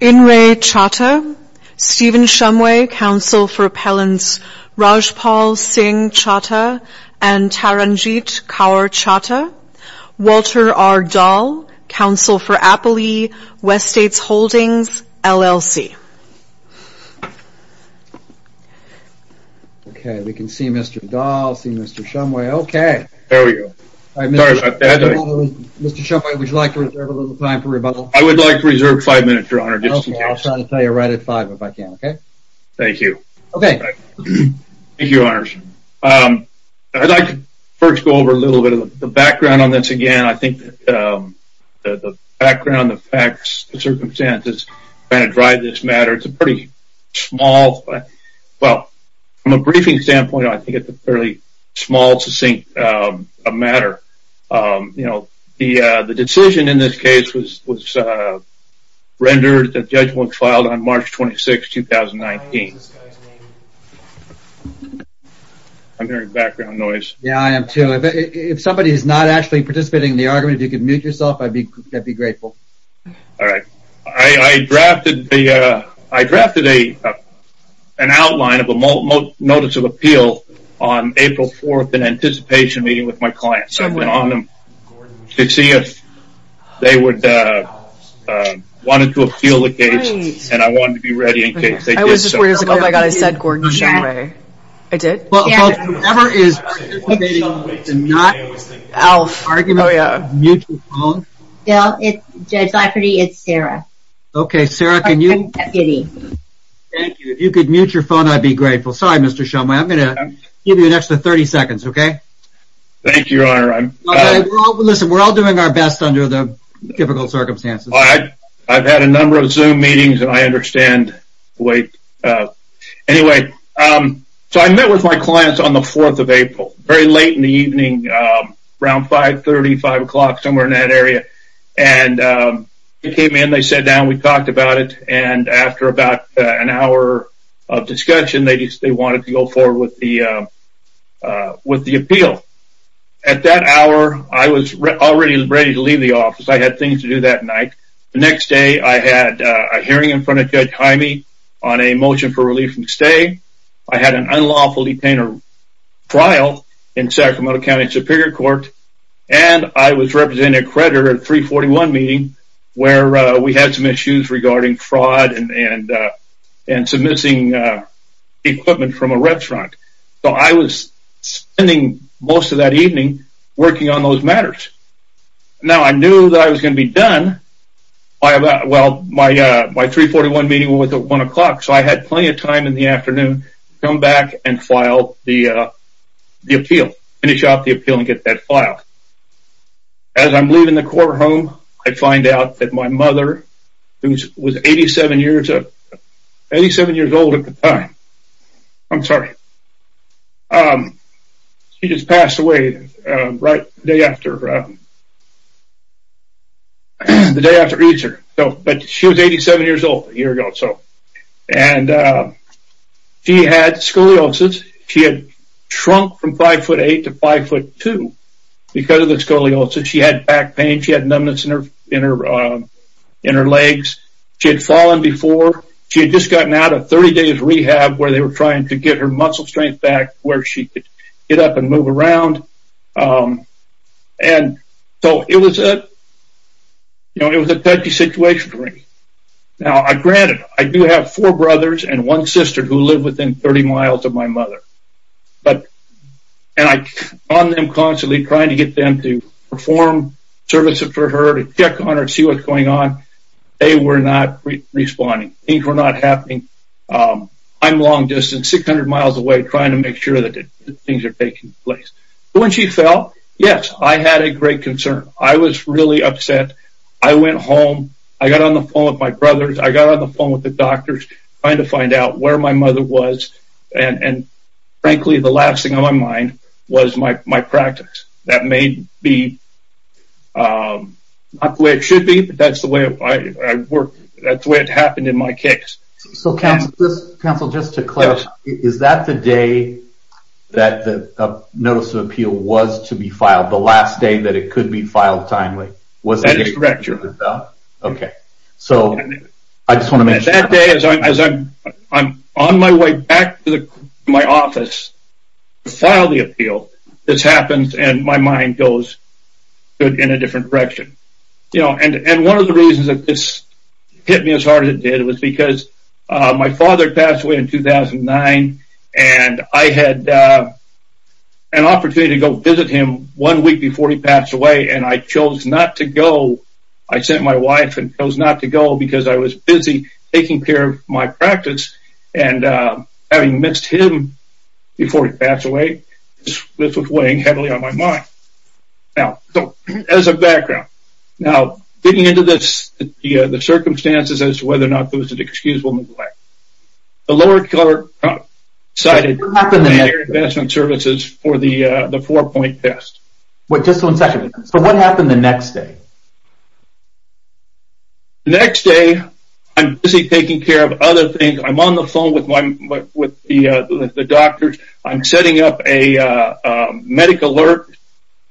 In re. Chatha, Stephen Shumway, counsel for appellants Rajpal Singh Chatha and Taranjeet Kaur Chatha, Walter R. Dahl, counsel for Appley West States Holdings, LLC. Okay, we can see Mr. Dahl, see Mr. Shumway, okay. There we go. Sorry about that. Mr. Shumway, would you like to reserve a little time for rebuttal? I would like to reserve five minutes, your honor. Okay, I'll try to tell you right at five if I can, okay? Thank you. Okay. Thank you, your honors. I'd like to first go over a little bit of the background on this again. I think that the background, the facts, the circumstances that drive this matter, it's a pretty small, well, from a briefing standpoint, I think it's a fairly small, succinct matter. You know, the decision in this case was rendered, the judgment was filed on March 26, 2019. I'm hearing background noise. Yeah, I am too. If somebody is not actually participating in the argument, if you could mute yourself, I'd be grateful. All right. I drafted an outline of a notice of appeal on April 4th in anticipation of meeting with my clients. I went on them to see if they wanted to appeal the case, and I wanted to be ready in case they did so. I was just going to say, oh my God, I said Gordon Shumway. I did? Well, folks, whoever is participating to not argue, mute your phone. Yeah, it's Judge Lafferty. It's Sarah. Okay, Sarah, can you? Thank you. If you could mute your phone, I'd be grateful. Sorry, Mr. Shumway. I'm going to give you an extra 30 seconds, okay? Thank you, Your Honor. Listen, we're all doing our best under the difficult circumstances. I've had a number of Zoom meetings, and I understand the weight. Anyway, so I met with my clients on the 4th of April, very late in the evening, around 5.30, 5 o'clock, somewhere in that area. They came in, they sat down, we talked about it, and after about an hour of discussion, they wanted to go forward with the appeal. At that hour, I was already ready to leave the office. I had things to do that night. The next day, I had a hearing in front of Judge Hyme on a motion for relief from the state. I had an unlawful detainer trial in Sacramento County Superior Court, and I was representing an accreditor at 341 meeting, where we had some issues regarding fraud and some missing equipment from a restaurant. So I was spending most of that evening working on those matters. Now, I knew that I was going to be done by about, well, my 341 meeting was at 1 o'clock, so I had plenty of time in the afternoon to come back and file the appeal, finish out the appeal and get that filed. As I'm leaving the courthouse, I find out that my mother, who was 87 years old at the time, I'm sorry, she just passed away the day after Easter, but she was 87 years old a year ago. And she had scoliosis. She had shrunk from 5'8 to 5'2 because of the scoliosis. She had back pain. She had numbness in her legs. She had fallen before. She had just gotten out of 30 days rehab where they were trying to get her muscle strength back where she could get up and move around. And so it was a touchy situation for me. Now, granted, I do have four brothers and one sister who live within 30 miles of my mother. And I call them constantly trying to get them to perform services for her to check on her and see what's going on. They were not responding. Things were not happening. I'm long distance, 600 miles away, trying to make sure that things are taking place. When she fell, yes, I had a great concern. I was really upset. I went home. I got on the phone with my brothers. I got on the phone with the doctors trying to find out where my mother was. And frankly, the last thing on my mind was my practice. That may be not the way it should be, but that's the way it happened in my case. So, counsel, just to clarify, is that the day that the notice of appeal was to be filed, the last day that it could be filed timely? That is correct. Okay. So, I just want to make sure. That day, as I'm on my way back to my office to file the appeal, this happens and my mind goes in a different direction. And one of the reasons that this hit me as hard as it did was because my father passed away in 2009, and I had an opportunity to go visit him one week before he passed away, and I chose not to go. I sent my wife and chose not to go because I was busy taking care of my practice, and having missed him before he passed away, this was weighing heavily on my mind. Now, so, as a background, now, getting into this, the circumstances as to whether or not there was an excusable neglect, the lower court cited the Air Advancement Services for the four-point test. Just one second. So, what happened the next day? The next day, I'm busy taking care of other things. I'm on the phone with the doctors. I'm setting up a medic alert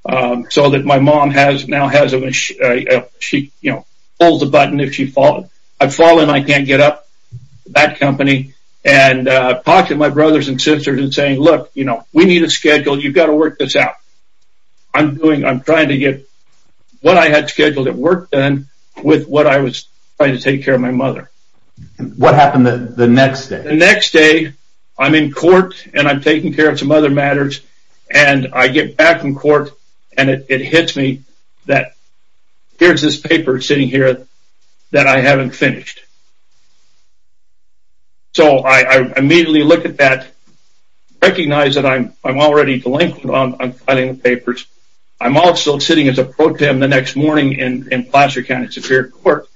so that my mom now has a machine. She, you know, pulls the button if she falls. I fall and I can't get up, that company. And I talk to my brothers and sisters and say, look, you know, we need a schedule. You've got to work this out. I'm doing, I'm trying to get what I had scheduled at work done with what I was trying to take care of my mother. What happened the next day? The next day, I'm in court and I'm taking care of some other matters, and I get back from court and it hits me that here's this paper sitting here that I haven't finished. So, I immediately look at that, recognize that I'm already delinquent on filing the papers. I'm also sitting as a pro tem the next morning in Placer County Superior Court,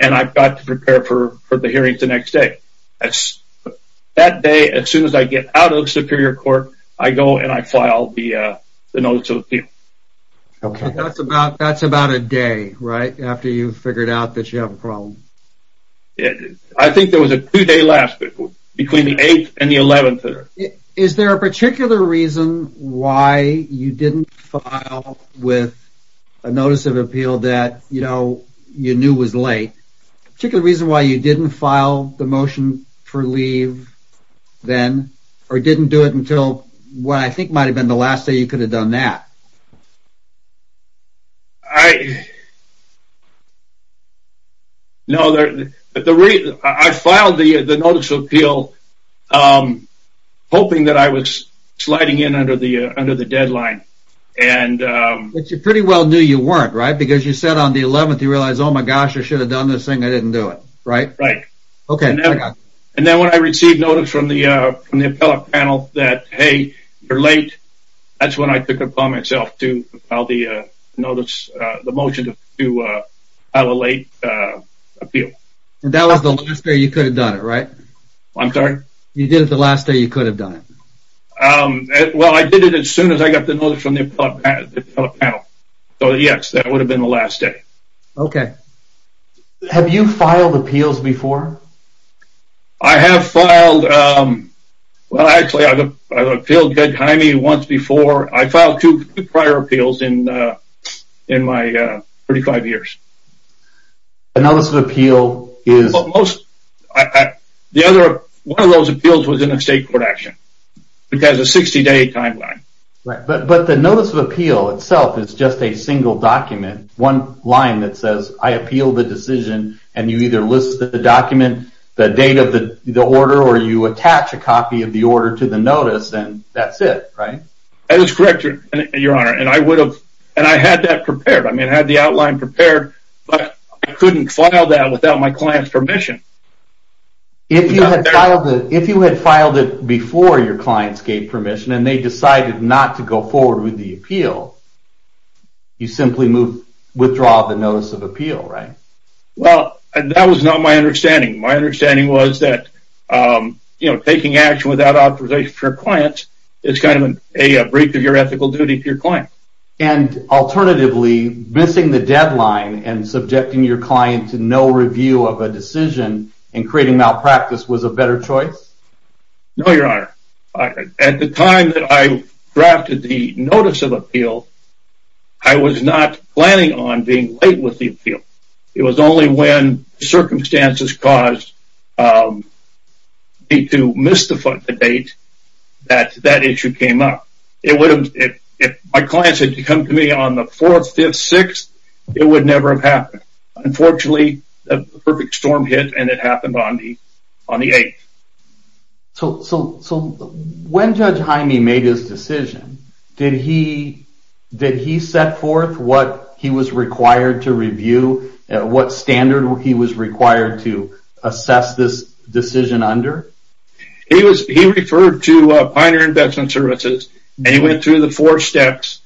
and I've got to prepare for the hearings the next day. That day, as soon as I get out of Superior Court, I go and I file the notice of appeal. That's about a day, right, after you've figured out that you have a problem? I think there was a two-day lapse between the 8th and the 11th. Is there a particular reason why you didn't file with a notice of appeal that, you know, you knew was late? A particular reason why you didn't file the motion for leave then, or didn't do it until what I think might have been the last day you could have done that? No, I filed the notice of appeal hoping that I was sliding in under the deadline. But you pretty well knew you weren't, right? Because you said on the 11th you realized, oh my gosh, I should have done this thing, I didn't do it, right? Right. Okay, I got you. And then when I received notice from the appellate panel that, hey, you're late, that's when I took it upon myself to file the motion to file a late appeal. And that was the last day you could have done it, right? I'm sorry? You did it the last day you could have done it. Well, I did it as soon as I got the notice from the appellate panel. So, yes, that would have been the last day. Okay. Have you filed appeals before? I have filed – well, actually, I've appealed against Jaime once before. I filed two prior appeals in my 35 years. A notice of appeal is – One of those appeals was in a state court action. It has a 60-day timeline. Right, but the notice of appeal itself is just a single document, one line that says I appeal the decision, and you either list the document, the date of the order, or you attach a copy of the order to the notice, and that's it, right? That is correct, Your Honor, and I would have – and I had that prepared. I mean, I had the outline prepared, but I couldn't file that without my client's permission. If you had filed it before your clients gave permission and they decided not to go forward with the appeal, you simply withdraw the notice of appeal, right? Well, that was not my understanding. My understanding was that taking action without authorization from your clients is kind of a breach of your ethical duty to your clients. And alternatively, missing the deadline and subjecting your client to no review of a decision and creating malpractice was a better choice? No, Your Honor. At the time that I drafted the notice of appeal, I was not planning on being late with the appeal. It was only when circumstances caused me to miss the date that that issue came up. If my clients had come to me on the 4th, 5th, 6th, it would never have happened. Unfortunately, the perfect storm hit and it happened on the 8th. So when Judge Hyme made his decision, did he set forth what he was required to review, what standard he was required to assess this decision under? He referred to Pioneer Investment Services and he went through the four steps.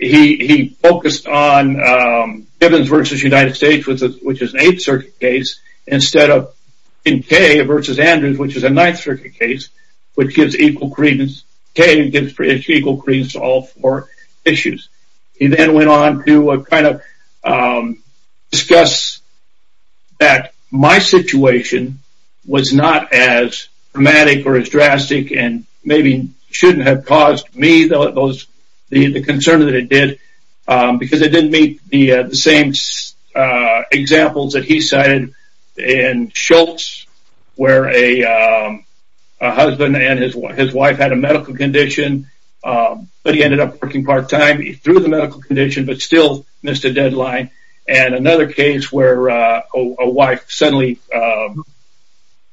He focused on Gibbons v. United States, which is an 8th Circuit case, instead of Kay v. Andrews, which is a 9th Circuit case, which gives equal credence to all four issues. He then went on to discuss that my situation was not as dramatic or as drastic and maybe shouldn't have caused me the concern that it did because it didn't meet the same examples that he cited in Schultz, where a husband and his wife had a medical condition, but he ended up working part-time. He threw the medical condition, but still missed a deadline. And another case where a wife suddenly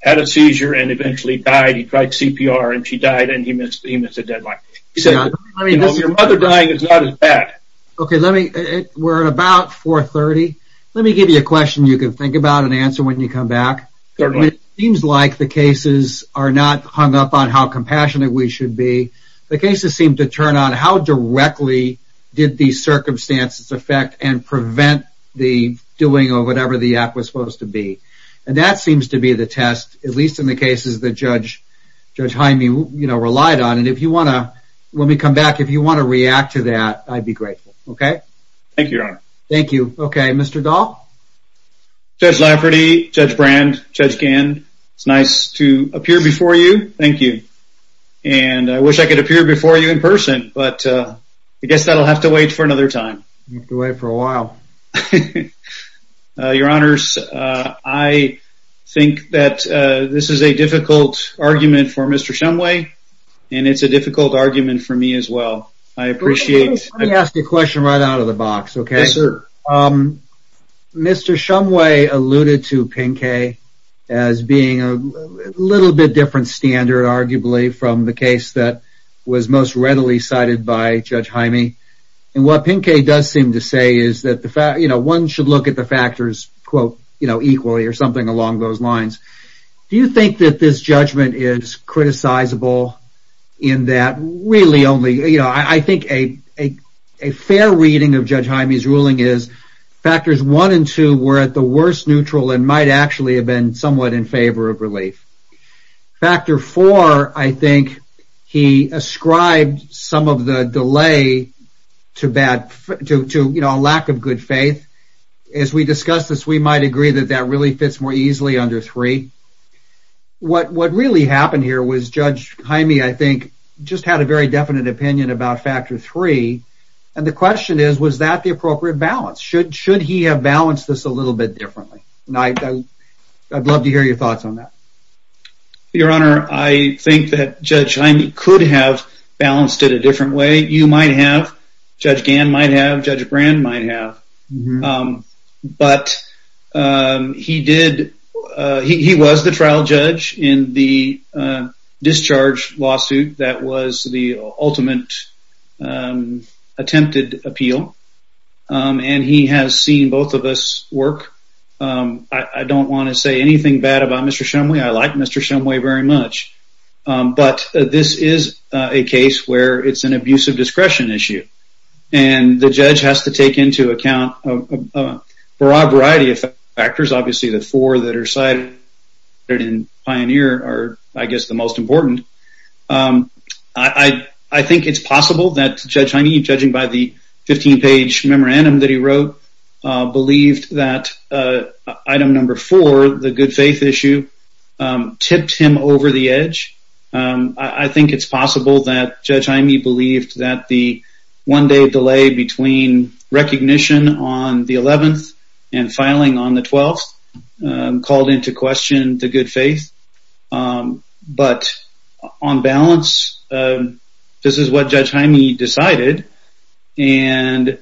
had a seizure and eventually died. He tried CPR and she died and he missed a deadline. Your mother dying is not as bad. Okay, we're at about 4.30. Let me give you a question you can think about and answer when you come back. It seems like the cases are not hung up on how compassionate we should be. The cases seem to turn on how directly did these circumstances affect and prevent the doing of whatever the act was supposed to be. And that seems to be the test, at least in the cases that Judge Hyme relied on. Let me come back. If you want to react to that, I'd be grateful. Okay? Thank you, Your Honor. Thank you. Okay, Mr. Dahl? Judge Lafferty, Judge Brand, Judge Gann, it's nice to appear before you. Thank you. And I wish I could appear before you in person, but I guess that'll have to wait for another time. It'll have to wait for a while. Your Honors, I think that this is a difficult argument for Mr. Shumway, and it's a difficult argument for me as well. I appreciate it. Let me ask you a question right out of the box, okay? Yes, sir. Mr. Shumway alluded to Pinkay as being a little bit different standard, arguably, from the case that was most readily cited by Judge Hyme. And what Pinkay does seem to say is that one should look at the factors, quote, you know, equally or something along those lines. Do you think that this judgment is criticizable in that really only, you know, I think a fair reading of Judge Hyme's ruling is factors one and two were at the worst neutral and might actually have been somewhat in favor of relief. Factor four, I think, he ascribed some of the delay to, you know, a lack of good faith. As we discuss this, we might agree that that really fits more easily under three. What really happened here was Judge Hyme, I think, just had a very definite opinion about factor three. And the question is, was that the appropriate balance? Should he have balanced this a little bit differently? I'd love to hear your thoughts on that. Your Honor, I think that Judge Hyme could have balanced it a different way. I think you might have, Judge Gann might have, Judge Brand might have. But he did, he was the trial judge in the discharge lawsuit that was the ultimate attempted appeal. And he has seen both of us work. I don't want to say anything bad about Mr. Shumway. I like Mr. Shumway very much. But this is a case where it's an abusive discretion issue. And the judge has to take into account a broad variety of factors. Obviously, the four that are cited in Pioneer are, I guess, the most important. I think it's possible that Judge Hyme, judging by the 15-page memorandum that I think it's possible that Judge Hyme believed that the one day delay between recognition on the 11th and filing on the 12th called into question the good faith. But on balance, this is what Judge Hyme decided. And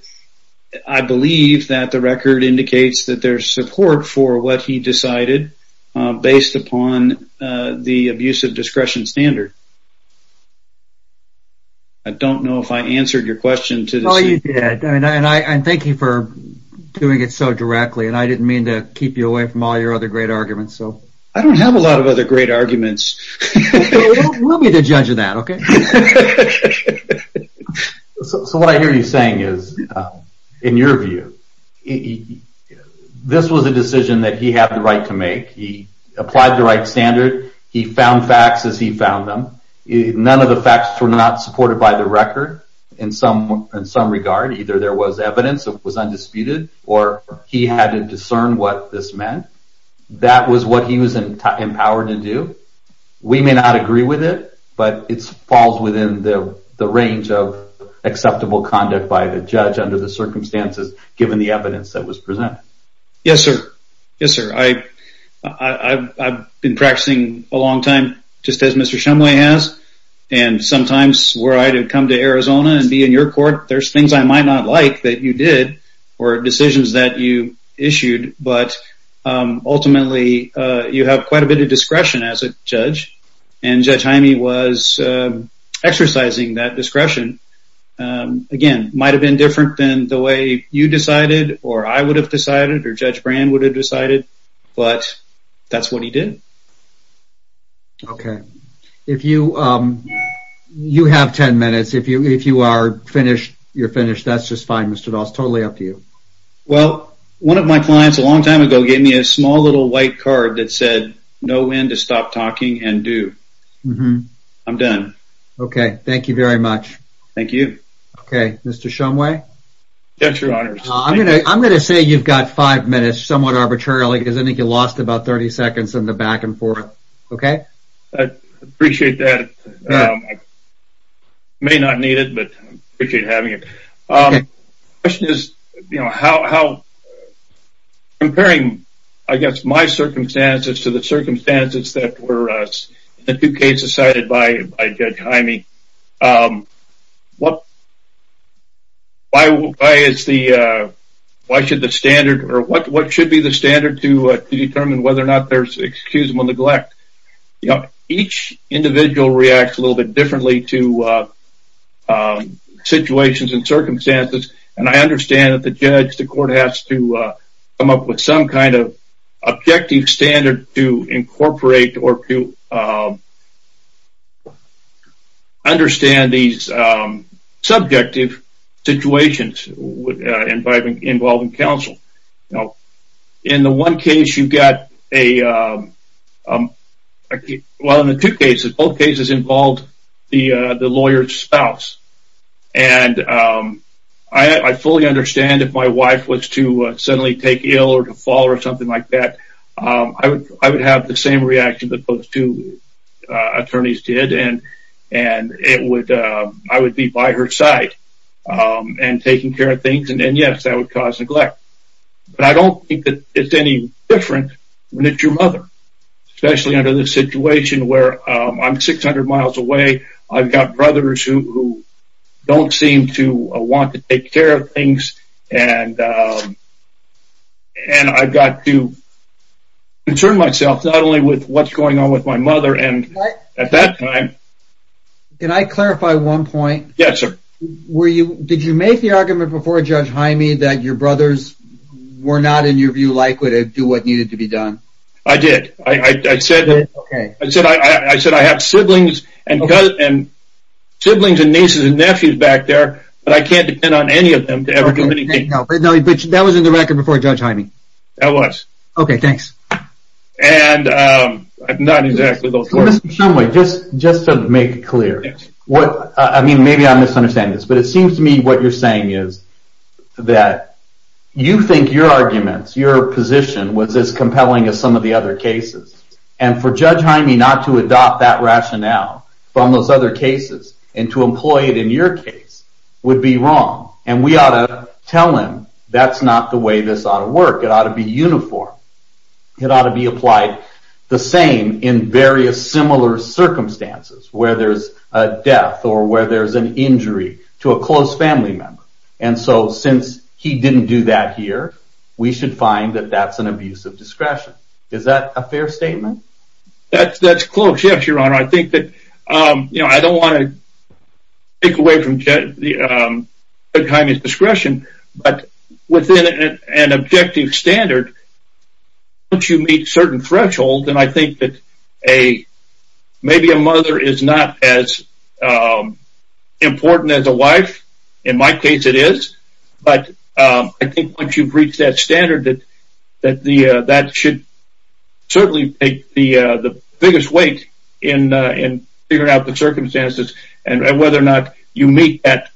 I believe that the record indicates that there's support for what he decided based upon the abusive discretion standard. I don't know if I answered your question. Well, you did. And thank you for doing it so directly. And I didn't mean to keep you away from all your other great arguments. I don't have a lot of other great arguments. We'll be the judge of that, okay? So what I hear you saying is, in your view, this was a decision that he had the right to make. He applied the right standard. He found facts as he found them. None of the facts were not supported by the record in some regard. Either there was evidence that was undisputed or he had to discern what this meant. That was what he was empowered to do. We may not agree with it, but it falls within the range of acceptable conduct by the judge under the circumstances given the evidence that was presented. Yes, sir. Yes, sir. I've been practicing a long time, just as Mr. Shumway has. And sometimes, were I to come to Arizona and be in your court, there's things I might not like that you did or decisions that you issued. But ultimately, you have quite a bit of discretion as a judge. And Judge Hyme was exercising that discretion. Again, it might have been different than the way you decided or I would have decided or Judge Brand would have decided, but that's what he did. Okay. You have ten minutes. If you are finished, you're finished. That's just fine, Mr. Dahl. It's totally up to you. Well, one of my clients a long time ago gave me a small little white card that said, know when to stop talking and do. I'm done. Okay. Thank you very much. Thank you. Okay. Mr. Shumway? Judge, your honors. I'm going to say you've got five minutes somewhat arbitrarily because I think you lost about 30 seconds in the back and forth. Okay? I appreciate that. I may not need it, but I appreciate having it. Okay. The question is, comparing, I guess, my circumstances to the circumstances that were in the two cases cited by Judge Hyme, what should be the standard to determine whether or not there's excusable neglect? Each individual reacts a little bit differently to situations and circumstances, and I understand that the judge, the court has to come up with some kind of objective standard to incorporate or to understand these subjective situations involving counsel. Now, in the one case you've got a – well, in the two cases, both cases involved the lawyer's spouse, and I fully understand if my wife was to suddenly take ill or to fall ill or something like that, I would have the same reaction that those two attorneys did, and I would be by her side and taking care of things, and yes, that would cause neglect. But I don't think that it's any different when it's your mother, especially under this situation where I'm 600 miles away, I've got brothers who don't seem to want to take care of things, and I've got to concern myself not only with what's going on with my mother, and at that time – Can I clarify one point? Yes, sir. Did you make the argument before Judge Hyme that your brothers were not, in your view, likely to do what needed to be done? I did. I said I have siblings and nieces and nephews back there, but I can't depend on any of them to ever do anything. No, but that was in the record before Judge Hyme. That was. Okay, thanks. And not exactly those words. Mr. Shumway, just to make it clear, maybe I'm misunderstanding this, but it seems to me what you're saying is that you think your arguments, your position was as compelling as some of the other cases, and for Judge Hyme not to adopt that rationale from those other cases and to employ it in your case would be wrong, and we ought to tell him that's not the way this ought to work. It ought to be uniform. It ought to be applied the same in various similar circumstances, where there's a death or where there's an injury to a close family member, and so since he didn't do that here, we should find that that's an abuse of discretion. Is that a fair statement? That's close, yes, Your Honor. I think that I don't want to take away from Judge Hyme's discretion, but within an objective standard, once you meet certain thresholds, and I think that maybe a mother is not as important as a wife. In my case, it is, but I think once you've reached that standard, that that should certainly take the biggest weight in figuring out the circumstances and whether or not you meet that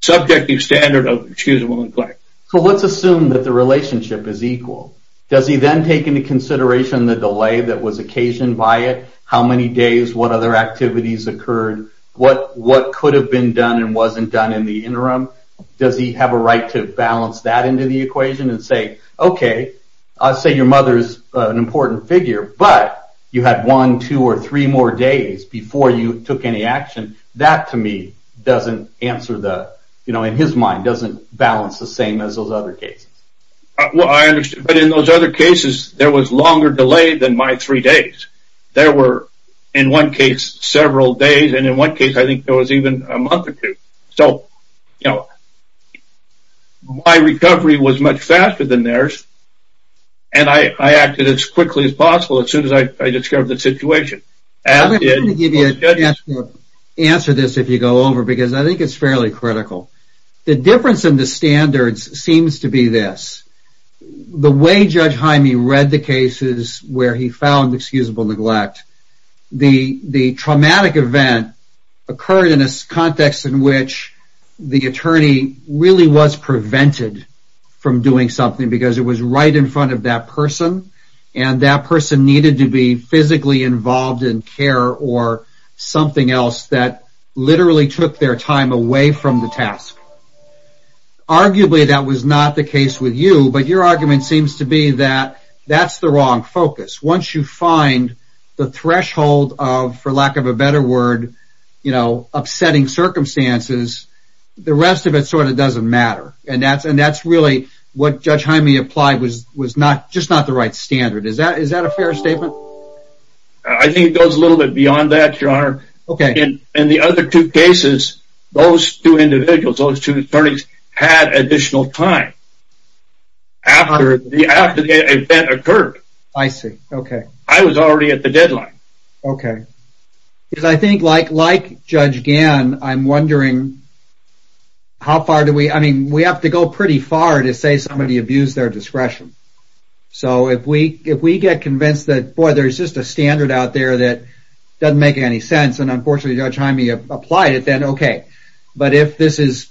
subjective standard of excusable and correct. So let's assume that the relationship is equal. Does he then take into consideration the delay that was occasioned by it, how many days, what other activities occurred, what could have been done and wasn't done in the interim? Does he have a right to balance that into the equation and say, okay, I'll say your mother is an important figure, but you had one, two, or three more days before you took any action. That, to me, doesn't answer the, in his mind, doesn't balance the same as those other cases. Well, I understand, but in those other cases, there was longer delay than my three days. There were, in one case, several days, and in one case, I think there was even a month or two. So, you know, my recovery was much faster than theirs, and I acted as quickly as possible as soon as I discovered the situation. I'm going to give you a chance to answer this if you go over, because I think it's fairly critical. The difference in the standards seems to be this. The way Judge Hyme read the cases where he found excusable neglect, the traumatic event occurred in a context in which the attorney really was prevented from doing something because it was right in front of that person, and that person needed to be physically involved in care or something else that literally took their time away from the task. Arguably, that was not the case with you, but your argument seems to be that that's the wrong focus. Once you find the threshold of, for lack of a better word, upsetting circumstances, the rest of it sort of doesn't matter, and that's really what Judge Hyme applied was just not the right standard. Is that a fair statement? I think it goes a little bit beyond that, Your Honor. In the other two cases, those two individuals, those two attorneys, had additional time after the event occurred. I see. Okay. I was already at the deadline. Okay. Because I think, like Judge Gann, I'm wondering how far do we... I mean, we have to go pretty far to say somebody abused their discretion. So if we get convinced that, boy, there's just a standard out there that doesn't make any sense, and unfortunately Judge Hyme applied it, then okay. But if this is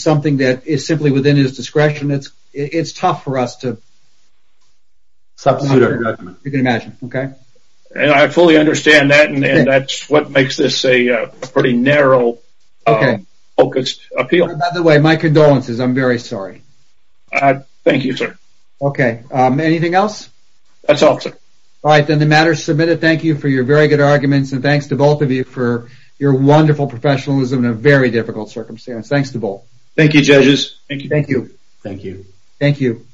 something that is simply within his discretion, it's tough for us to... You can imagine. Okay? I fully understand that, and that's what makes this a pretty narrow-focused appeal. By the way, my condolences. I'm very sorry. Thank you, sir. Okay. Anything else? That's all, sir. All right. Then the matter is submitted. Thank you for your very good arguments, and thanks to both of you for your wonderful professionalism in a very difficult circumstance. Thanks to both. Thank you, judges. Thank you. Thank you. Thank you.